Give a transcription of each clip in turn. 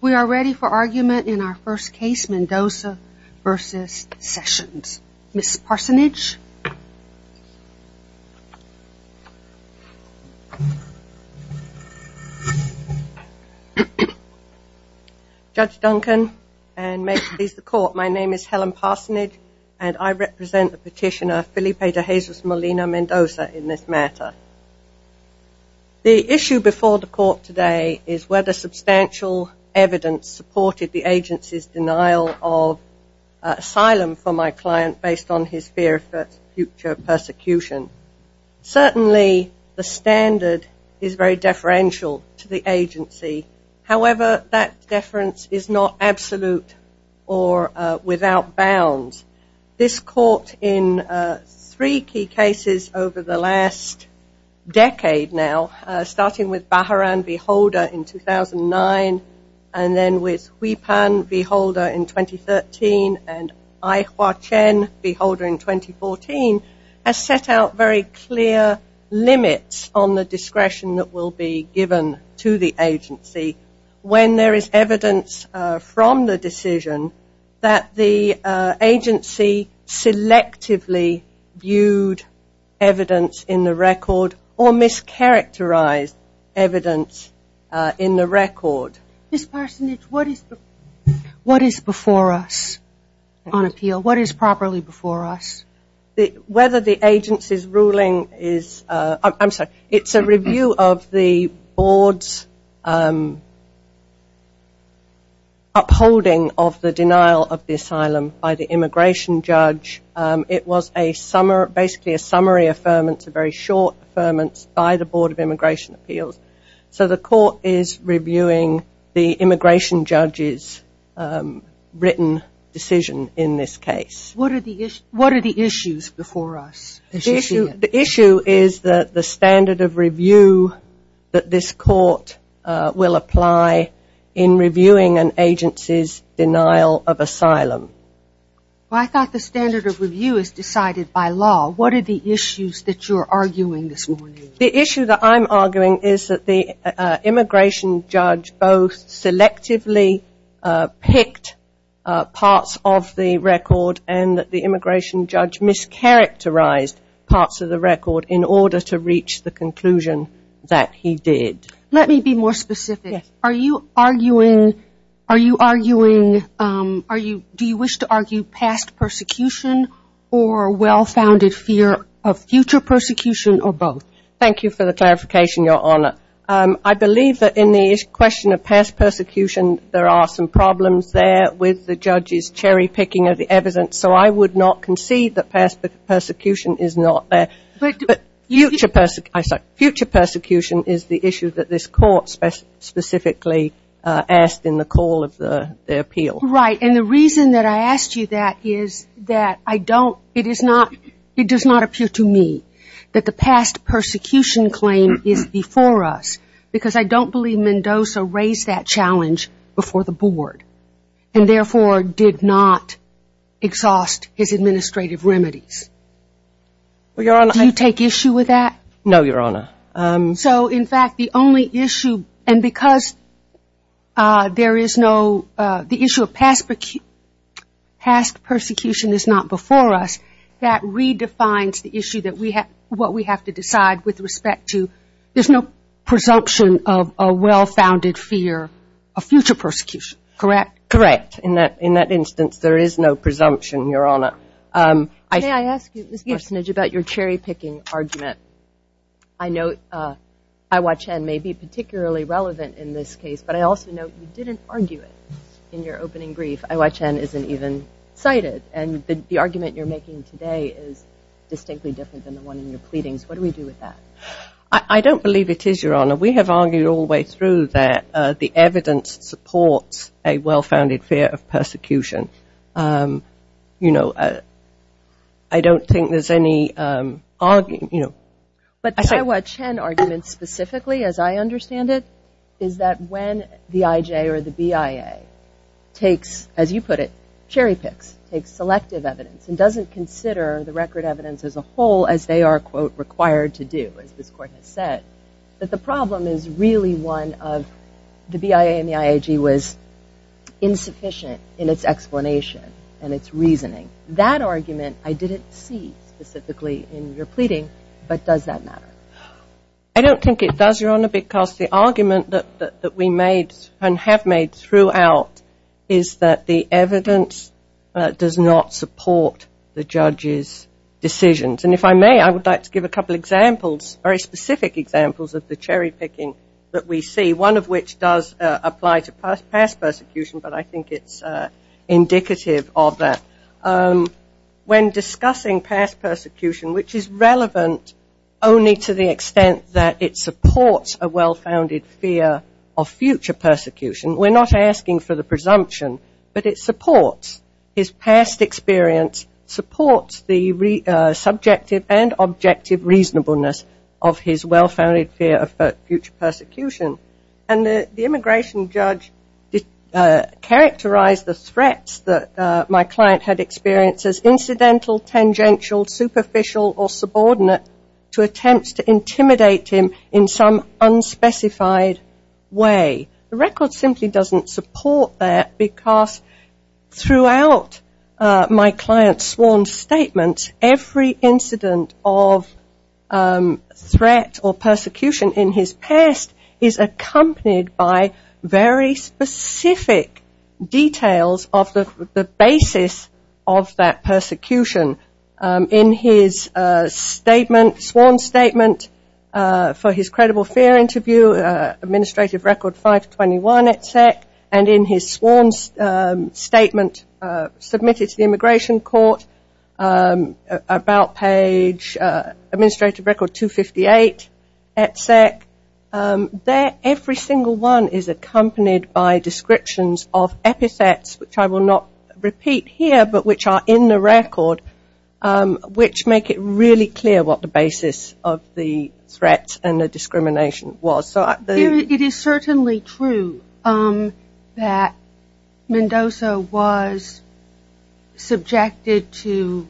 We are ready for argument in our first case, Mendoza v. Sessions. Ms. Parsonage? Judge Duncan, and may it please the Court, my name is Helen Parsonage and I represent the petitioner Felipe de Jesus Molina Mendoza in this matter. The issue before the Court today is whether substantial evidence supported the agency's denial of asylum for my client based on his fear for future persecution. Certainly the standard is very deferential to the agency. However, that deference is not absolute or without bounds. This Court in three key cases over the last decade now, starting with Baharan v. Holder in 2009 and then with Huipan v. Holder in 2013 and Ai Hua Chen v. Holder in 2014, has set out very clear limits on the discretion that will be given to the agency when there is evidence from the decision that the agency selectively viewed evidence in the record or mischaracterized evidence in the record. Ms. Parsonage, what is before us on appeal? What is properly before us? Whether the agency's ruling is, I'm sorry, it's a review of the Board's upholding of the denial of the asylum by the immigration judge. It was basically a summary affirmance, a very short affirmance by the Board of Immigration Appeals. So the Court is reviewing the immigration judge's written decision in this case. What are the issues before us? The issue is that the standard of review that this Court will apply in reviewing an agency's denial of asylum. I thought the standard of review is decided by law. What are the issues that you're arguing this morning? The issue that I'm arguing is that the immigration judge both selectively picked parts of the record and that the immigration judge mischaracterized parts of the record in order to reach the conclusion that he did. Let me be more specific. Are you arguing, are you arguing, do you wish to argue past persecution or well-founded fear of future persecution or both? Thank you for the clarification, Your Honor. I believe that in the question of past persecution, there are some problems there with the judge's cherry-picking of the evidence, so I would not concede that past persecution is not there. But future persecution is the issue that this Court specifically asked in the call of the appeal. Right. And the reason that I asked you that is that I don't, it is not, it does not appear to me that the past persecution claim is before us because I don't believe Mendoza raised that challenge before the Board and therefore did not exhaust his administrative remedies. Do you take issue with that? No, Your Honor. So in fact, the only issue, and because there is no, the issue of past persecution is not before us, that redefines the issue that we have, what we have to decide with respect to, there's no presumption of a well-founded fear of future persecution. Correct? Correct. In that instance, there is no presumption, Your Honor. May I ask you, Ms. Gipson, about your cherry-picking argument? I note Ai Wai-Chen may be particularly relevant in this case, but I also note you didn't argue it in your opening brief. Ai Wai-Chen isn't even cited, and the argument you're making today is distinctly different than the one in your pleadings. What do we do with that? I don't believe it is, Your Honor. We have argued all the way through that the evidence supports a well-founded fear of persecution. You know, I don't think there's any argument, you know. But the Ai Wai-Chen argument specifically, as I understand it, is that when the IJ or the BIA takes, as you put it, cherry-picks, takes selective evidence and doesn't consider the record evidence as a whole as they are, quote, required to do, as this Court has said, that the problem is really one of the BIA and the IAG was insufficient in its explanation and its reasoning. That argument I didn't see specifically in your pleading, but does that matter? I don't think it does, Your Honor, because the argument that we made and have made throughout is that the evidence does not support the judge's decisions. And if I may, I would like to give a couple examples, very specific examples of the cherry-picking that we see, one of which does apply to past persecution, but I think it's indicative of that. When discussing past persecution, which is relevant only to the extent that it supports a well-founded fear of future persecution, we're not asking for the presumption, but it supports his past experience, supports the subjective and objective reasonableness of his well-founded fear of future persecution. And the immigration judge characterized the threats that my client had experienced as incidental, tangential, superficial, or subordinate to attempts to intimidate him in some unspecified way. The record simply doesn't support that because throughout my client's sworn statements, every incident of threat or persecution in his past is accompanied by very specific details of the basis of that persecution. In his sworn statement for his credible fear interview, administrative record 521 at SEC, and in his sworn statement submitted to the immigration court about page administrative record 258 at SEC, every single one is accompanied by descriptions of epithets, which I will not repeat here, but which are in the record, which make it really clear what the basis of the threat and the discrimination was. It is certainly true that Mendoza was subjected to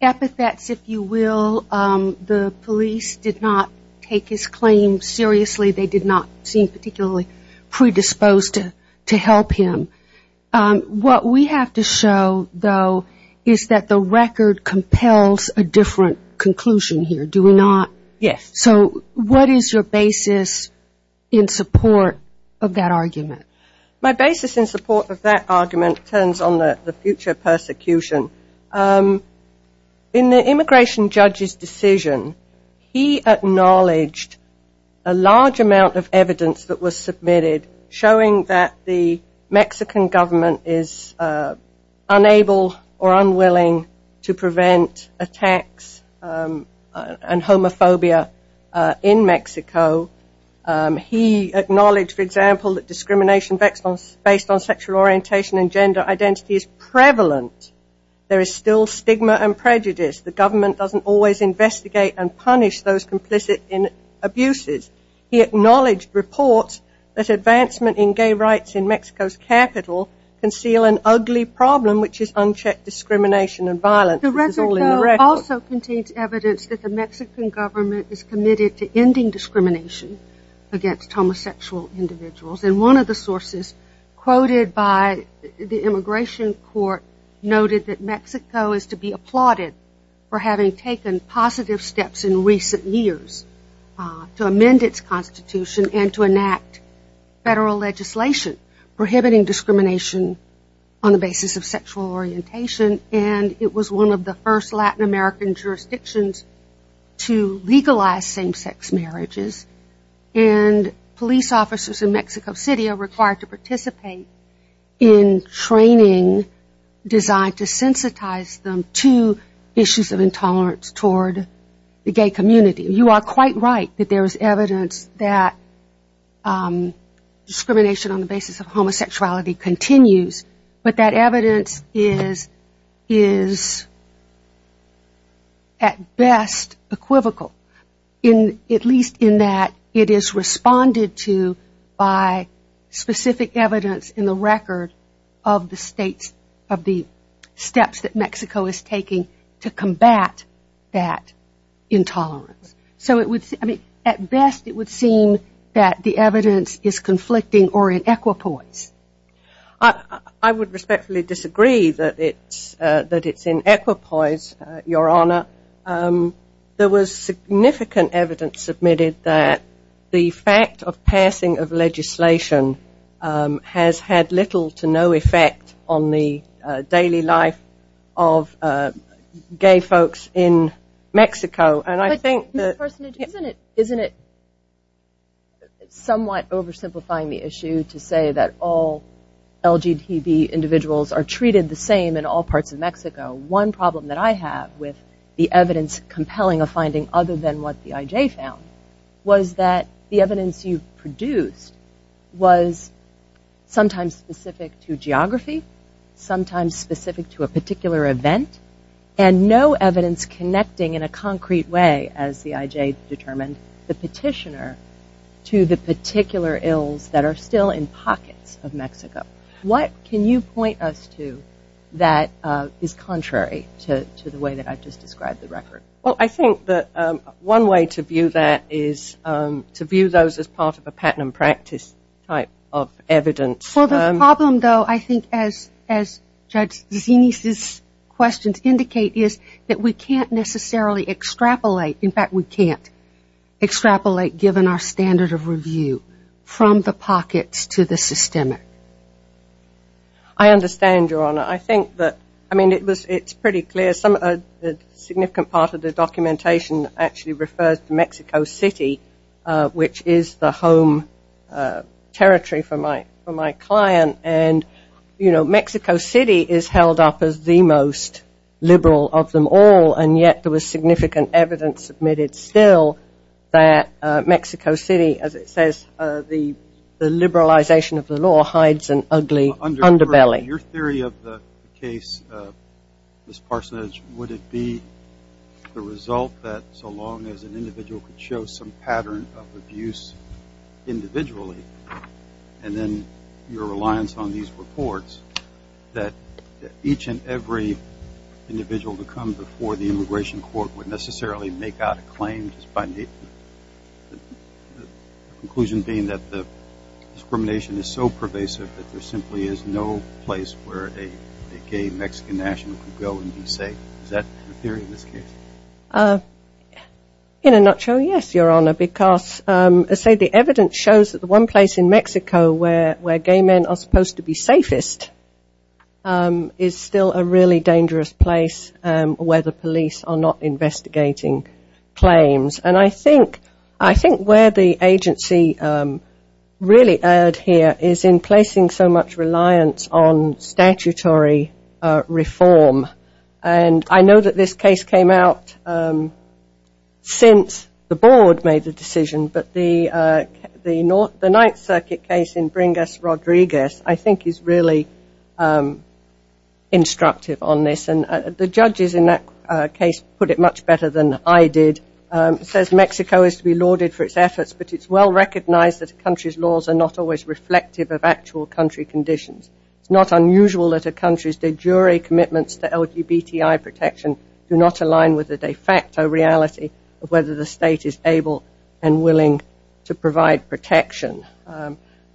epithets, if you will. The police did not take his claims seriously. They did not seem particularly predisposed to help him. What we have to show, though, is that the record compels a different conclusion here, do we not? So what is your basis in support of that argument? My basis in support of that argument turns on the future persecution. In the immigration judge's decision, he acknowledged a large amount of evidence that was submitted showing that the Mexican government is unable or unwilling to prevent attacks and homophobia in Mexico. He acknowledged, for example, that discrimination based on sexual orientation and gender identity is prevalent. There is still stigma and prejudice. The government doesn't always investigate and punish those complicit in abuses. He acknowledged reports that advancement in gay rights in Mexico's capital conceal an ugly problem, which is unchecked discrimination and violence. The record also contains evidence that the Mexican government is committed to ending discrimination against homosexual individuals. One of the sources quoted by the immigration court noted that Mexico is to be applauded for having taken positive steps in recent years to amend its constitution and to enact federal legislation prohibiting discrimination on the basis of sexual orientation. It was one of the first Latin American jurisdictions to legalize same-sex marriages. And police officers in Mexico City are required to participate in training designed to sensitize them to issues of intolerance toward the gay community. You are quite right that there is evidence that discrimination on the basis of homosexuality continues, but that evidence is at best equivocal. At least in that it is responded to by specific evidence in the record of the steps that Mexico is taking to combat that intolerance. At best it would seem that the evidence is conflicting or in equipoise. I would respectfully disagree that it is in equipoise, Your Honor. There was significant evidence submitted that the fact of passing of legislation has had little to no effect on the daily life of gay folks in Mexico. Isn't it somewhat oversimplifying the issue to say that all LGBT individuals are treated the same in all parts of Mexico? One problem that I have with the evidence compelling a finding other than what the IJ found was that the evidence you produced was sometimes specific to geography, sometimes specific to a particular event, and no evidence connecting in a concrete way, as the IJ determined, the petitioner to the particular ills that are still in pockets of Mexico. What can you point us to that is contrary to the way that I just described the record? Well, I think that one way to view that is to view those as part of a pattern and practice type of evidence. Well, the problem, though, I think, as Judge Zinis' questions indicate, is that we can't necessarily extrapolate, in fact, we can't extrapolate, given our standard of review, from the pockets to the systemic. I understand, Your Honor. I think that, I mean, it's pretty clear. A significant part of the documentation actually refers to Mexico City, which is the home territory for my client. And, you know, Mexico City is held up as the most liberal of them all, and yet there was significant evidence submitted still that Mexico City, as it says, the liberalization of the law hides an ugly underbelly. In your theory of the case, Ms. Parsonage, would it be the result that so long as an individual could show some pattern of abuse individually, and then your reliance on these reports, that each and every individual to come before the immigration court would necessarily make out a claim just by name? The conclusion being that the discrimination is so pervasive that there simply is no place where a gay Mexican national could go and be safe. Is that your theory in this case? In a nutshell, yes, Your Honor, because, as I say, the evidence shows that the one place in Mexico where gay men are supposed to be safest is still a really dangerous place where the police are not investigating claims. And I think where the agency really erred here is in placing so much reliance on statutory reform. And I know that this case came out since the board made the decision, but the Ninth Circuit case in Bringas-Rodriguez, I think, is really instructive on this. And the judges in that case put it much better than I did. It says Mexico is to be lauded for its efforts, but it's well recognized that a country's laws are not always reflective of actual country conditions. It's not unusual that a country's de jure commitments to LGBTI protection do not align with the de facto reality of whether the state is able and willing to provide protection.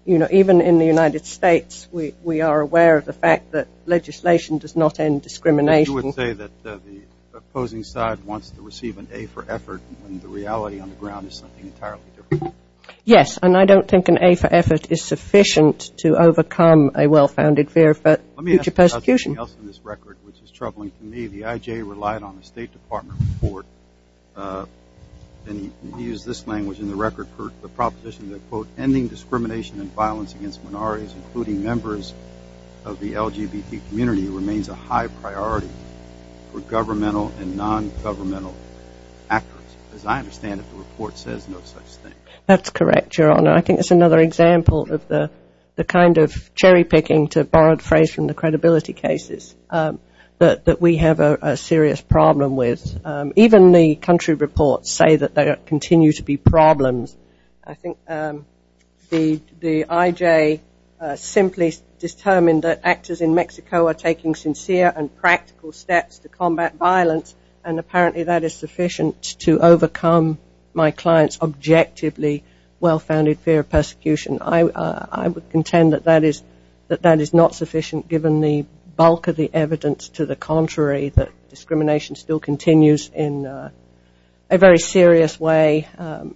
You know, even in the United States, we are aware of the fact that legislation does not end discrimination. But you would say that the opposing side wants to receive an A for effort when the reality on the ground is something entirely different. Yes, and I don't think an A for effort is sufficient to overcome a well-founded fear for future persecution. Let me ask you about something else in this record, which is troubling to me. The IJ relied on a State Department report. And he used this language in the record for the proposition that, quote, ending discrimination and violence against minorities, including members of the LGBT community, remains a high priority for governmental and non-governmental actors. As I understand it, the report says no such thing. That's correct, Your Honor. I think it's another example of the kind of cherry-picking, to a borrowed phrase from the credibility cases, that we have a serious problem with. Even the country reports say that there continue to be problems. I think the IJ simply determined that actors in Mexico are taking sincere and practical steps to combat violence, and apparently that is sufficient to overcome my client's objectively well-founded fear of persecution. I would contend that that is not sufficient, given the bulk of the evidence to the contrary, that discrimination still continues in a very serious way,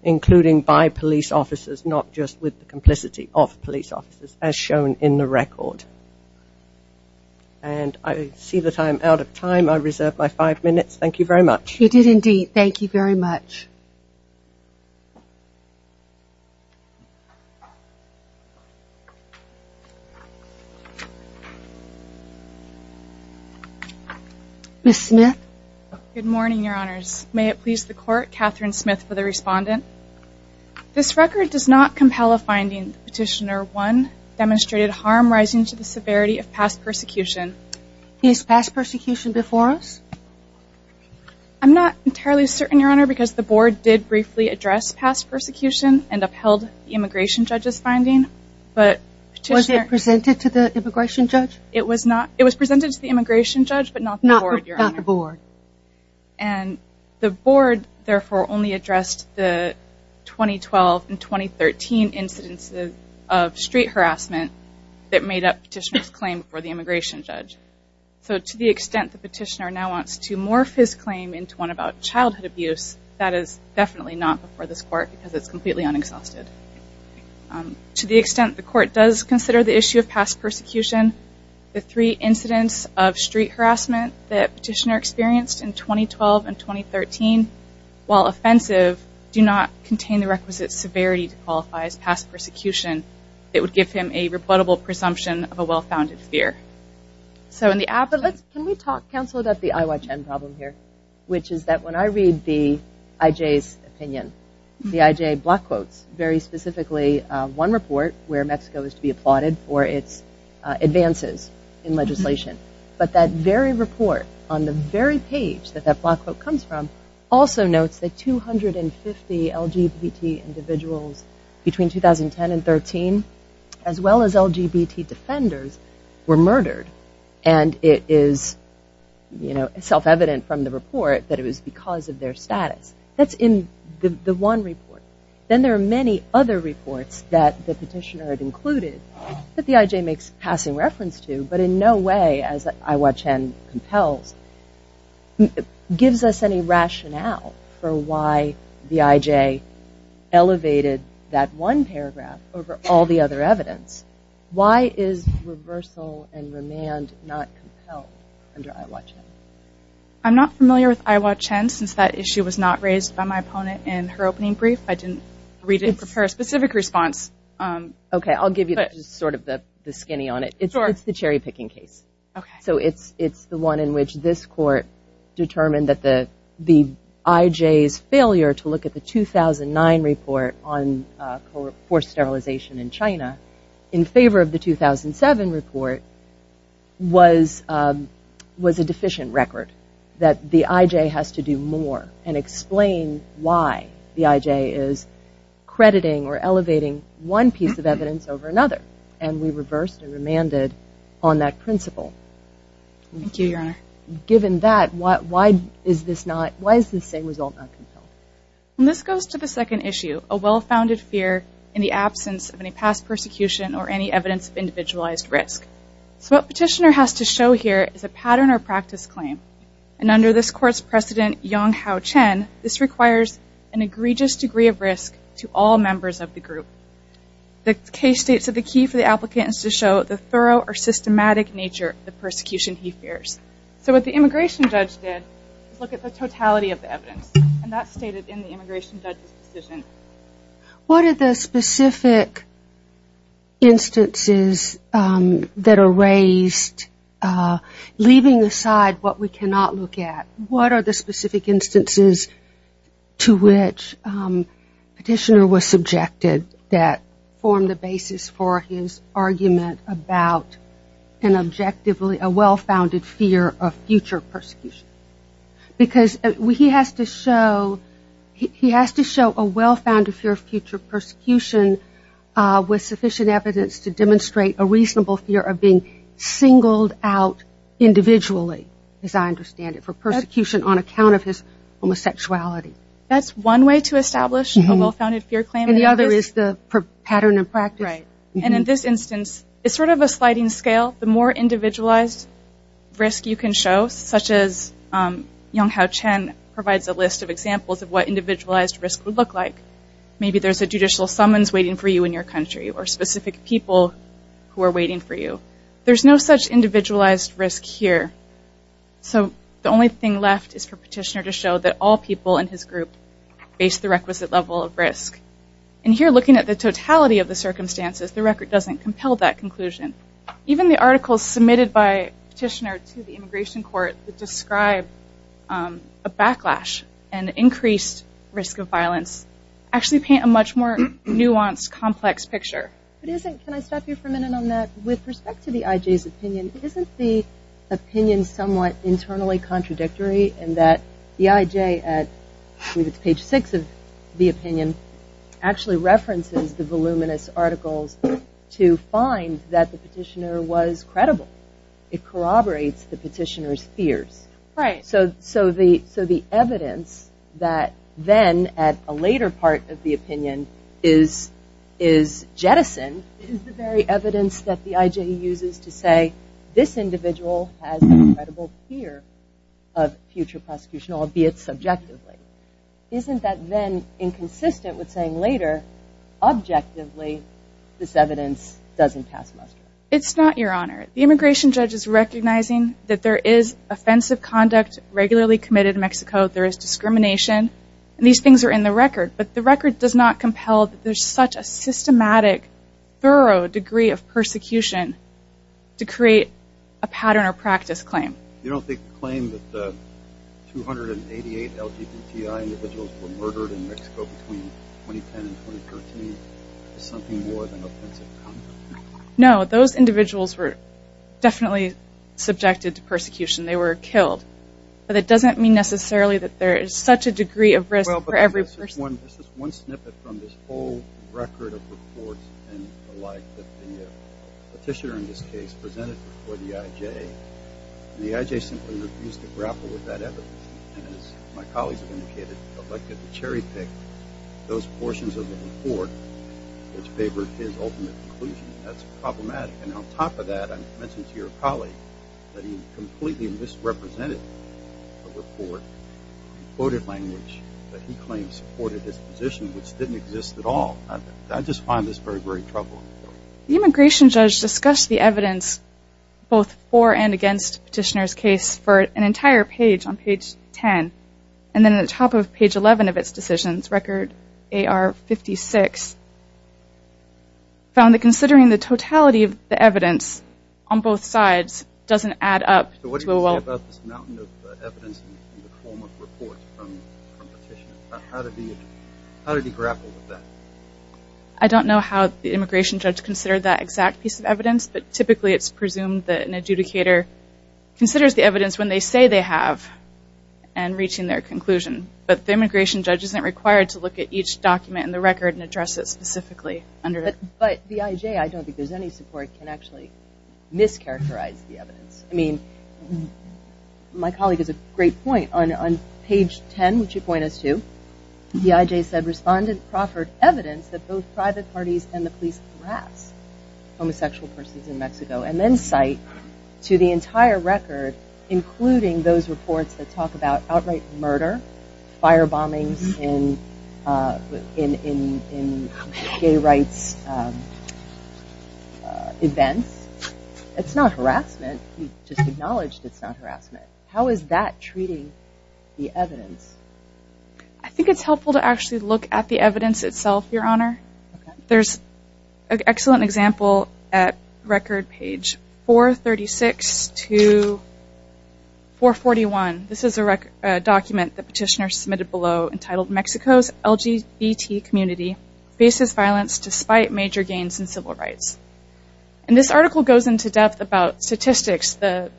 including by police officers, not just with the complicity of police officers, as shown in the record. And I see that I am out of time. I reserve my five minutes. Thank you very much. You did indeed. Thank you very much. Ms. Smith? Good morning, Your Honors. May it please the Court, Katherine Smith for the respondent. This record does not compel a finding that Petitioner 1 demonstrated harm rising to the severity of past persecution. Is past persecution before us? I'm not entirely certain, Your Honor, because the Board did briefly address past persecution and upheld the immigration judge's finding, but Petitioner – Was it presented to the immigration judge? It was not. It was presented to the immigration judge, but not the Board, Your Honor. Not the Board. And the Board, therefore, only addressed the 2012 and 2013 incidents of street harassment that made up Petitioner's claim before the immigration judge. So to the extent that Petitioner now wants to morph his claim into one about childhood abuse, that is definitely not before this Court, because it's completely unexhausted. To the extent the Court does consider the issue of past persecution, the three incidents of street harassment that Petitioner experienced in 2012 and 2013, while offensive, do not contain the requisite severity to qualify as past persecution that would give him a reputable presumption of a well-founded fear. So in the absence – But let's – can we talk, counsel, about the I.Y. Chen problem here, which is that when I read the I.J.'s opinion, the I.J. block quotes very specifically one report where Mexico is to be applauded for its advances in legislation, but that very report on the very page that that block quote comes from also notes that 250 LGBT individuals between 2010 and 2013, as well as LGBT defenders, were murdered. And it is, you know, self-evident from the report that it was because of their status. That's in the one report. Then there are many other reports that the Petitioner had included that the I.J. makes passing reference to, but in no way, as I.Y. Chen compels, gives us any rationale for why the I.J. elevated that one paragraph over all the other evidence. Why is reversal and remand not compelled under I.Y. Chen? I'm not familiar with I.Y. Chen since that issue was not raised by my opponent in her opening brief. I didn't read her specific response. Okay, I'll give you sort of the skinny on it. It's the cherry-picking case. So it's the one in which this court determined that the I.J.'s failure to look at the 2009 report on forced sterilization in China in favor of the 2007 report was a deficient record, that the I.J. has to do more and explain why the I.J. is crediting or elevating one piece of evidence over another. And we reversed and remanded on that principle. Thank you, Your Honor. Given that, why is the same result not compelled? This goes to the second issue, a well-founded fear in the absence of any past persecution or any evidence of individualized risk. So what Petitioner has to show here is a pattern or practice claim. And under this court's precedent, Yong Hao Chen, this requires an egregious degree of risk to all members of the group. The case states that the key for the applicant is to show the thorough or systematic nature of the persecution he fears. So what the immigration judge did was look at the totality of the evidence. And that's stated in the immigration judge's decision. What are the specific instances that are raised, leaving aside what we cannot look at? What are the specific instances to which Petitioner was subjected that formed the basis for his argument about an objectively, a well-founded fear of future persecution? Because he has to show a well-founded fear of future persecution with sufficient evidence to demonstrate a reasonable fear of being singled out individually, as I understand it, for persecution on account of his homosexuality. That's one way to establish a well-founded fear claim. And the other is the pattern of practice. Right. And in this instance, it's sort of a sliding scale. The more individualized risk you can show, such as Yong Hao Chen provides a list of examples of what individualized risk would look like. Maybe there's a judicial summons waiting for you in your country or specific people who are waiting for you. There's no such individualized risk here. So the only thing left is for Petitioner to show that all people in his group face the requisite level of risk. And here, looking at the totality of the circumstances, the record doesn't compel that conclusion. Even the articles submitted by Petitioner to the immigration court that describe a backlash, an increased risk of violence, actually paint a much more nuanced, complex picture. Can I stop you for a minute on that? With respect to the IJ's opinion, isn't the opinion somewhat internally contradictory in that the IJ, at page six of the opinion, actually references the voluminous articles to find that the Petitioner was credible? So the evidence that then, at a later part of the opinion, is jettisoned is the very evidence that the IJ uses to say, this individual has an incredible fear of future prosecution, albeit subjectively. Isn't that then inconsistent with saying later, objectively, this evidence doesn't pass muster? It's not, Your Honor. The immigration judge is recognizing that there is offensive conduct regularly committed in Mexico, there is discrimination, and these things are in the record. But the record does not compel that there's such a systematic, thorough degree of persecution to create a pattern or practice claim. You don't think the claim that 288 LGBTI individuals were murdered in Mexico between 2010 and 2013 is something more than offensive conduct? No, those individuals were definitely subjected to persecution. They were killed. But it doesn't mean necessarily that there is such a degree of risk for every person. This is one snippet from this whole record of reports and the like that the Petitioner, in this case, presented before the IJ. The IJ simply refused to grapple with that evidence. And as my colleagues have indicated, elected to cherry-pick those portions of the report which favored his ultimate conclusion. That's problematic. And on top of that, I mentioned to your colleague that he completely misrepresented the report, quoted language that he claimed supported his position, which didn't exist at all. I just find this very, very troubling. The immigration judge discussed the evidence both for and against Petitioner's case for an entire page on page 10. And then at the top of page 11 of its decisions, record AR-56, found that considering the totality of the evidence on both sides doesn't add up to a well- So what do you say about this mountain of evidence in the form of reports from Petitioner? How did he grapple with that? I don't know how the immigration judge considered that exact piece of evidence, but typically it's presumed that an adjudicator considers the evidence when they say they have and reaching their conclusion. But the immigration judge isn't required to look at each document in the record and address it specifically. But the IJ, I don't think there's any support, can actually mischaracterize the evidence. I mean, my colleague has a great point. On page 10, which you point us to, the IJ said, Respondent proffered evidence that both private parties and the police harass homosexual persons in Mexico and then cite to the entire record, including those reports that talk about outright murder, fire bombings in gay rights events. It's not harassment. He just acknowledged it's not harassment. How is that treating the evidence? I think it's helpful to actually look at the evidence itself, Your Honor. There's an excellent example at record page 436 to 441. This is a document that Petitioner submitted below entitled, Mexico's LGBT community faces violence despite major gains in civil rights. And this article goes into depth about statistics, the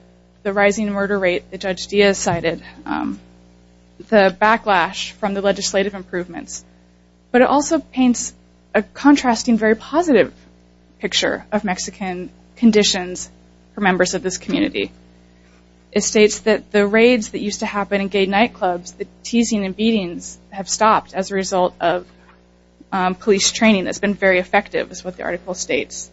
rising murder rate that Judge Diaz cited, the backlash from the legislative improvements. But it also paints a contrasting, very positive picture of Mexican conditions for members of this community. It states that the raids that used to happen in gay nightclubs, the teasing and beatings have stopped as a result of police training. It's been very effective, is what the article states.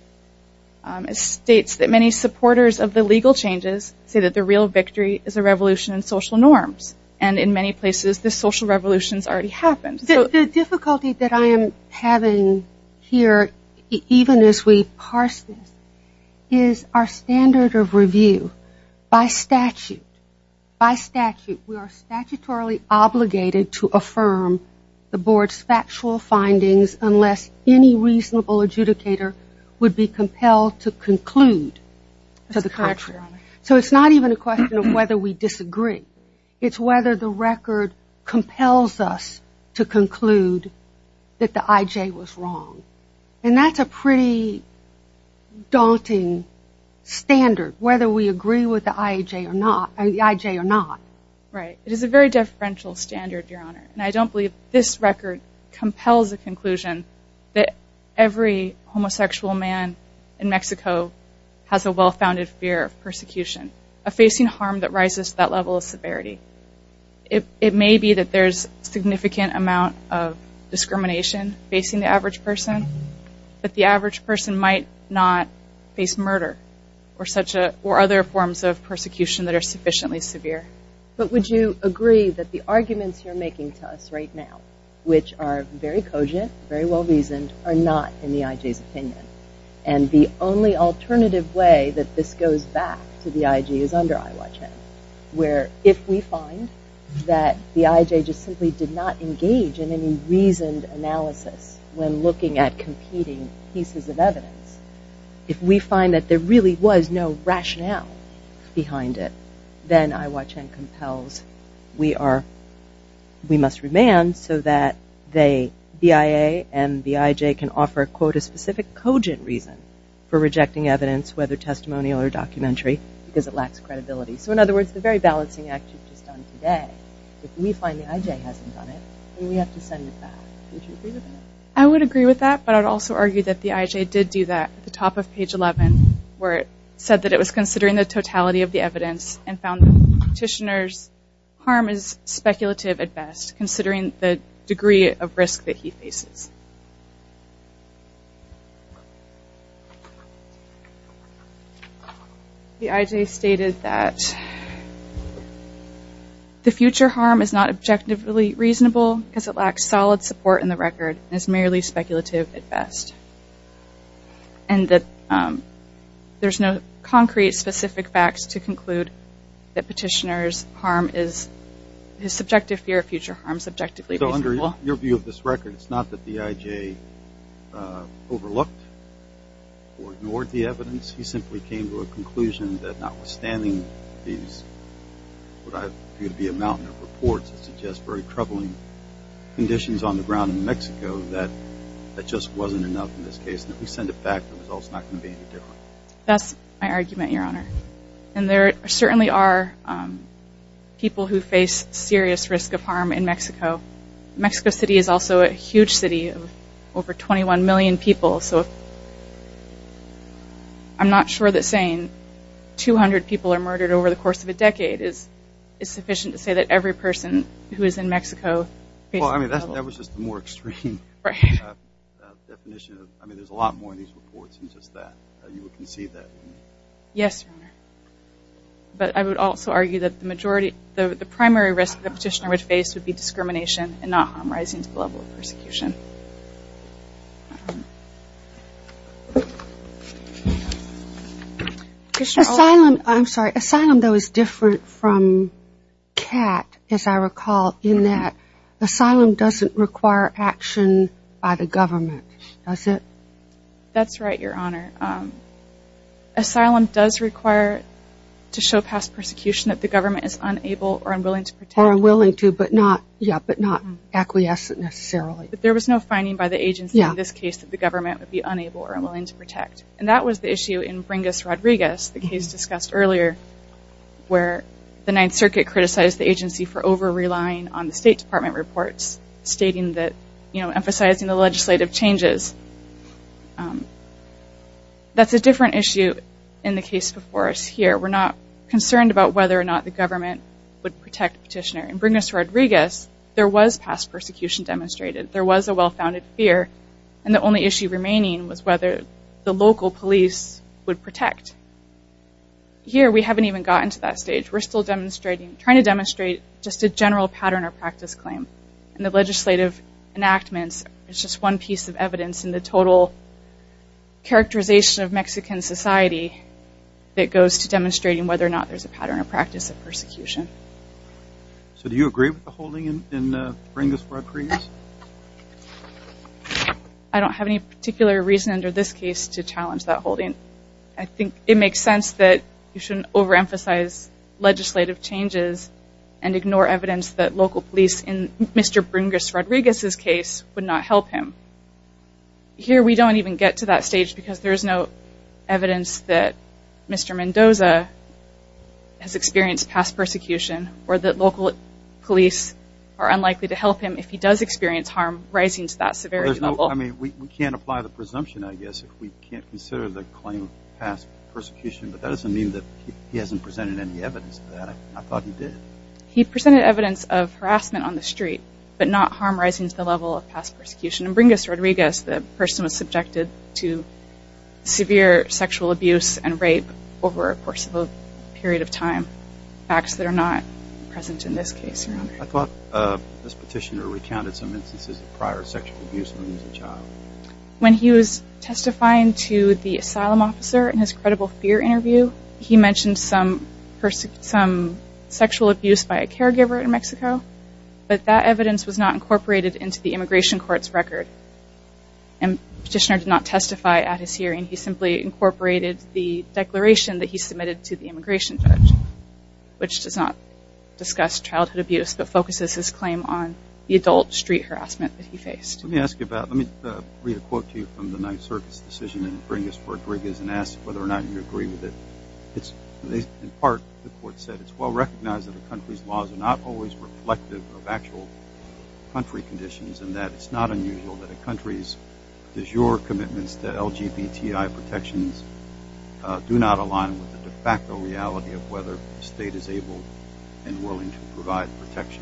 It states that many supporters of the legal changes say that the real victory is a revolution in social norms. And in many places, this social revolution has already happened. The difficulty that I am having here, even as we parse this, is our standard of review. By statute, by statute, we are statutorily obligated to affirm the board's factual findings unless any reasonable adjudicator would be compelled to conclude to the contrary. That's correct, Your Honor. So it's not even a question of whether we disagree. It's whether the record compels us to conclude that the IJ was wrong. And that's a pretty daunting standard, whether we agree with the IJ or not. Right. It is a very differential standard, Your Honor. And I don't believe this record compels a conclusion that every homosexual man in Mexico has a well-founded fear of persecution, of facing harm that rises to that level of severity. It may be that there's significant amount of discrimination facing the average person, but the average person might not face murder or other forms of persecution that are sufficiently severe. But would you agree that the arguments you're making to us right now, which are very cogent, very well-reasoned, are not in the IJ's opinion? And the only alternative way that this goes back to the IJ is under IWATCHN, where if we find that the IJ just simply did not engage in any reasoned analysis when looking at competing pieces of evidence, if we find that there really was no rationale behind it, then IWATCHN compels we must remand so that the BIA and the IJ can offer, quote, a specific cogent reason for rejecting evidence, whether testimonial or documentary, because it lacks credibility. So in other words, the very balancing act you've just done today, if we find the IJ hasn't done it, then we have to send it back. Would you agree with that? I would agree with that, but I would also argue that the IJ did do that at the top of page 11, where it said that it was considering the totality of the evidence and found the petitioner's harm is speculative at best, considering the degree of risk that he faces. The IJ stated that the future harm is not objectively reasonable because it lacks solid support in the record and is merely speculative at best, and that there's no concrete specific facts to conclude that petitioner's harm is, his subjective fear of future harm is subjectively reasonable. So under your view of this record, it's not that the IJ overlooked or ignored the evidence. He simply came to a conclusion that notwithstanding these, what I view to be a mountain of reports that suggest very troubling conditions on the ground in Mexico, that that just wasn't enough in this case. And if we send it back, the result's not going to be any different. That's my argument, Your Honor. And there certainly are people who face serious risk of harm in Mexico. Mexico City is also a huge city of over 21 million people. So I'm not sure that saying 200 people are murdered over the course of a decade is sufficient to say that every person who is in Mexico faces that level. Well, I mean, that was just the more extreme definition. I mean, there's a lot more in these reports than just that. You would concede that, wouldn't you? Yes, Your Honor. But I would also argue that the majority, the primary risk the petitioner would face would be discrimination and not harm rising to the level of persecution. I'm sorry. Asylum, though, is different from CAT, as I recall, in that asylum doesn't require action by the government, does it? That's right, Your Honor. Asylum does require to show past persecution that the government is unable or unwilling to protect. Or unwilling to, but not, yeah, but not acquiescent necessarily. But there was no finding by the agency in this case that the government would be able to do that. And that was the issue in Bringus-Rodriguez, the case discussed earlier, where the Ninth Circuit criticized the agency for over-relying on the State Department reports, stating that, you know, emphasizing the legislative changes. That's a different issue in the case before us here. We're not concerned about whether or not the government would protect the petitioner. In Bringus-Rodriguez, there was past persecution demonstrated. There was a well-founded fear. And the only issue remaining was whether the local police would protect. Here, we haven't even gotten to that stage. We're still demonstrating, trying to demonstrate just a general pattern or practice claim. And the legislative enactments is just one piece of evidence in the total characterization of Mexican society that goes to demonstrating whether or not there's a pattern or practice of persecution. So do you agree with the holding in Bringus-Rodriguez? I don't have any particular reason under this case to challenge that holding. I think it makes sense that you shouldn't overemphasize legislative changes and ignore evidence that local police in Mr. Bringus-Rodriguez's case would not help him. Here, we don't even get to that stage because there's no evidence that Mr. Mendoza has experienced past persecution or that local police are unlikely to help him if he does experience harm rising to that severity level. I mean, we can't apply the presumption, I guess, if we can't consider the claim of past persecution. But that doesn't mean that he hasn't presented any evidence of that. I thought he did. He presented evidence of harassment on the street but not harm rising to the level of past persecution. In Bringus-Rodriguez, the person was subjected to severe sexual abuse and rape over a period of time. Facts that are not present in this case, Your Honor. I thought this petitioner recounted some instances of prior sexual abuse when he was a child. When he was testifying to the asylum officer in his credible fear interview, he mentioned some sexual abuse by a caregiver in Mexico, but that evidence was not incorporated into the immigration court's record. The petitioner did not testify at his hearing. He simply incorporated the declaration that he submitted to the immigration judge, which does not discuss childhood abuse but focuses his claim on the adult street harassment that he faced. Let me read a quote to you from the Ninth Circuit's decision in Bringus-Rodriguez and ask whether or not you agree with it. In part, the court said, it's well recognized that a country's laws are not always reflective of actual country conditions and that it's not unusual that a country's du jour commitments to LGBTI protections do not align with the de facto reality of whether the state is able and willing to provide protection.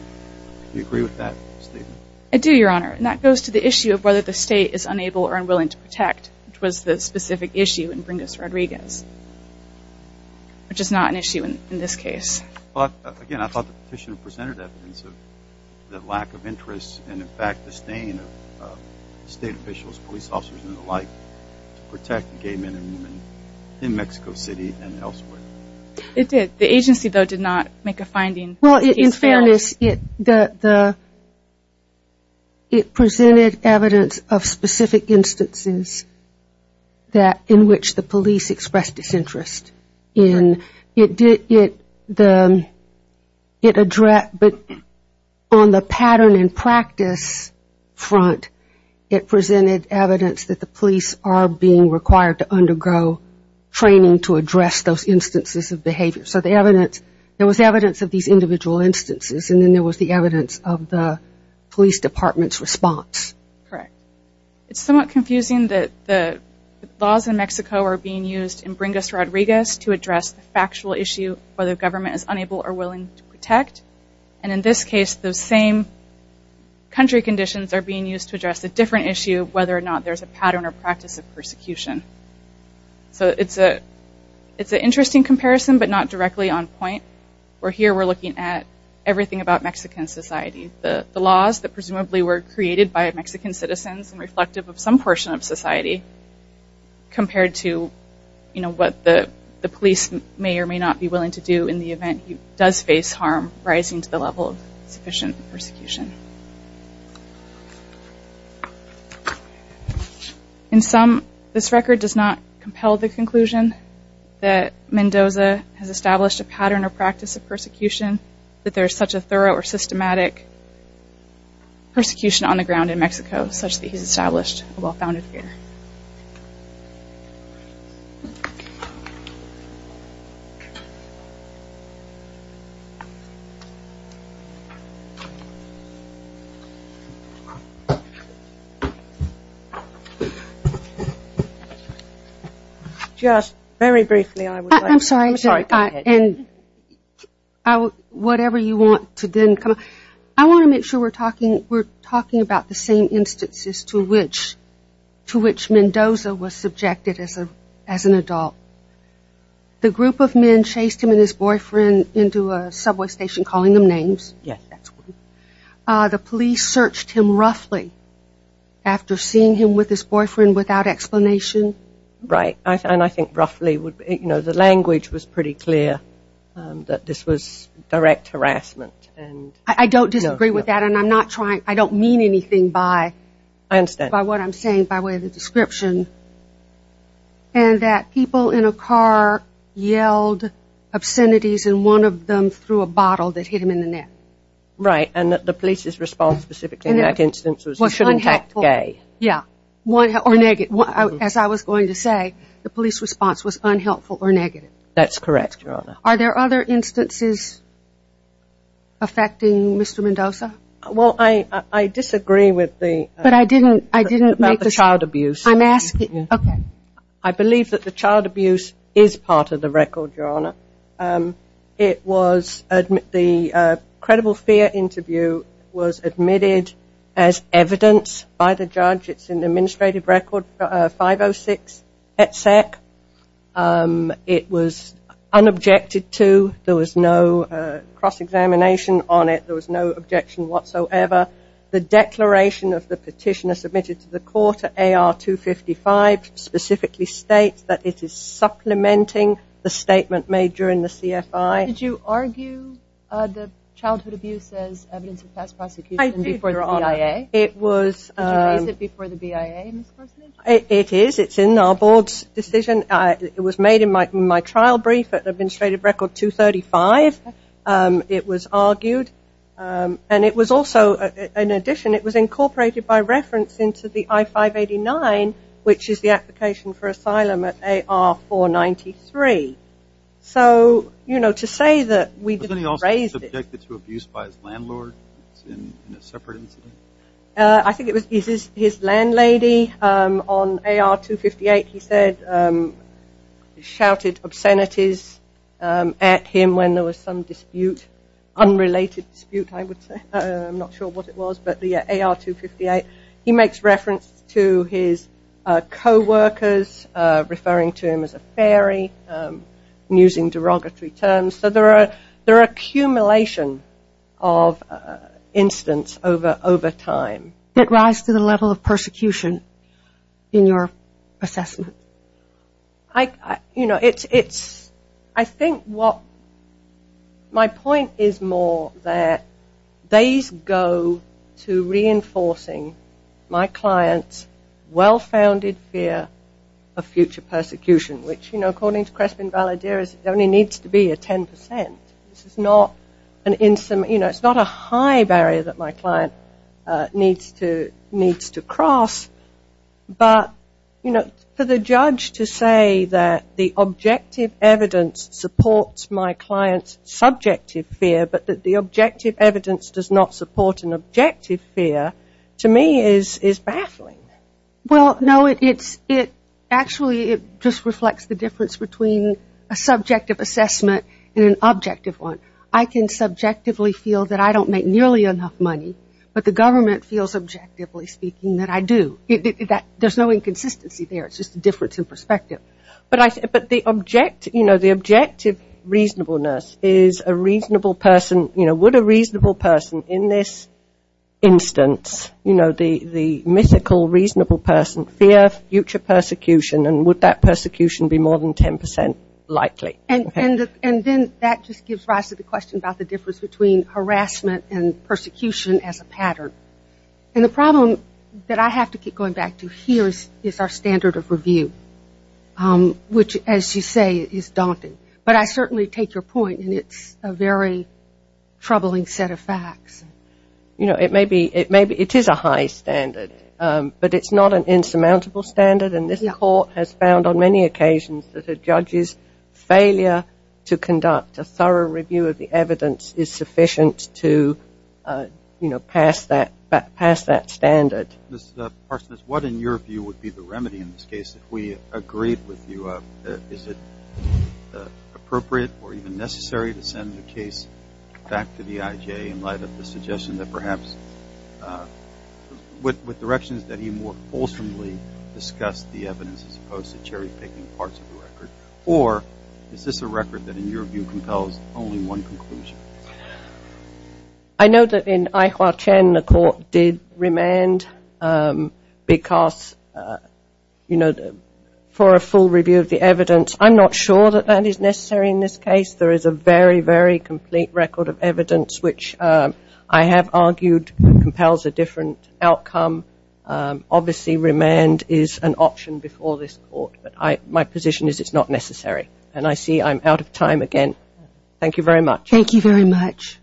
Do you agree with that statement? I do, Your Honor, and that goes to the issue of whether the state is unable or unwilling to protect, which was the specific issue in Bringus-Rodriguez, which is not an issue in this case. Again, I thought the petitioner presented evidence of the lack of interest and, in fact, disdain of state officials, police officers and the like to protect gay men and women in Mexico City and elsewhere. It did. The agency, though, did not make a finding. Well, in fairness, it presented evidence of specific instances in which the police expressed disinterest. But on the pattern and practice front, it presented evidence that the police are being required to undergo training to address those instances of behavior. So there was evidence of these individual instances and then there was the evidence of the police department's response. Correct. It's somewhat confusing that the laws in Mexico are being used in Bringus-Rodriguez to address the factual issue of whether the government is unable or willing to protect. And in this case, those same country conditions are being used to address a different issue of whether or not there's a pattern or practice of persecution. So it's an interesting comparison, but not directly on point. Here we're looking at everything about Mexican society. The laws that presumably were created by Mexican citizens and reflective of some portion of society compared to what the police may or may not be willing to do in the event he does face harm rising to the level of sufficient persecution. In sum, this record does not compel the conclusion that Mendoza has established a pattern or practice of persecution, that there's such a thorough or systematic persecution on the ground in Mexico such that he's established a well-founded fear. Thank you. Just very briefly, I would like to... I'm sorry. I'm sorry. Go ahead. Whatever you want to then come up. I want to make sure we're talking about the same instances to which Mendoza was subjected as an adult. The group of men chased him and his boyfriend into a subway station calling them names. Yes, that's right. The police searched him roughly after seeing him with his boyfriend without explanation. Right. And I think roughly, you know, the language was pretty clear that this was direct harassment. I don't disagree with that and I'm not trying... I don't mean anything by... I understand. ...by what I'm saying by way of a description. And that people in a car yelled obscenities and one of them threw a bottle that hit him in the neck. Right. And that the police's response specifically in that instance was he shouldn't act gay. Yeah. Or negative. As I was going to say, the police response was unhelpful or negative. That's correct, Your Honor. Are there other instances affecting Mr. Mendoza? Well, I disagree with the... But I didn't make the... ...about the child abuse. I'm asking... Okay. I believe that the child abuse is part of the record, Your Honor. It was the credible fear interview was admitted as evidence by the judge. It's in the administrative record 506 at SAC. It was unobjected to. There was no cross-examination on it. There was no objection whatsoever. The declaration of the petitioner submitted to the court, AR-255, specifically states that it is supplementing the statement made during the CFI. Did you argue the childhood abuse as evidence of past prosecution before the BIA? I did, Your Honor. Did you raise it before the BIA, Ms. Korsunen? It is. It's in our board's decision. It was made in my trial brief at administrative record 235. It was argued. And it was also, in addition, it was incorporated by reference into the I-589, which is the application for asylum at AR-493. So, you know, to say that we didn't raise it... Was he also subjected to abuse by his landlord in a separate incident? I think it was his landlady on AR-258, he said, shouted obscenities at him when there was some dispute, unrelated dispute, I would say. I'm not sure what it was, but the AR-258. He makes reference to his coworkers, referring to him as a fairy, and using derogatory terms. So there are accumulation of incidents over time. Did it rise to the level of persecution in your assessment? You know, it's... I think what... My point is more that these go to reinforcing my client's well-founded fear of future persecution, which, you know, according to Crespin-Valladere, it only needs to be a 10%. This is not an... You know, it's not a high barrier that my client needs to cross. But, you know, for the judge to say that the objective evidence supports my client's subjective fear, but that the objective evidence does not support an objective fear, to me is baffling. Well, no, it's... Actually, it just reflects the difference between a subjective assessment and an objective one. I can subjectively feel that I don't make nearly enough money, but the government feels, objectively speaking, that I do. There's no inconsistency there. It's just a difference in perspective. But the objective reasonableness is a reasonable person... Now, would a reasonable person in this instance, you know, the mythical reasonable person, fear future persecution, and would that persecution be more than 10% likely? And then that just gives rise to the question about the difference between harassment and persecution as a pattern. And the problem that I have to keep going back to here is our standard of review, which, as you say, is daunting. But I certainly take your point, and it's a very troubling set of facts. You know, it may be... It is a high standard, but it's not an insurmountable standard, and this Court has found on many occasions that a judge's failure to conduct a thorough review of the evidence is sufficient to, you know, pass that standard. Ms. Parsons, what, in your view, would be the remedy in this case if we agreed with you? Is it appropriate or even necessary to send the case back to the IJ in light of the suggestion that perhaps... with directions that he more fulsomely discussed the evidence as opposed to cherry-picking parts of the record? Or is this a record that, in your view, compels only one conclusion? I know that in Ai Hua Chen the Court did remand because, you know, for a full review of the evidence. I'm not sure that that is necessary in this case. There is a very, very complete record of evidence, which I have argued compels a different outcome. Obviously, remand is an option before this Court, but my position is it's not necessary. And I see I'm out of time again. Thank you very much. Thank you very much.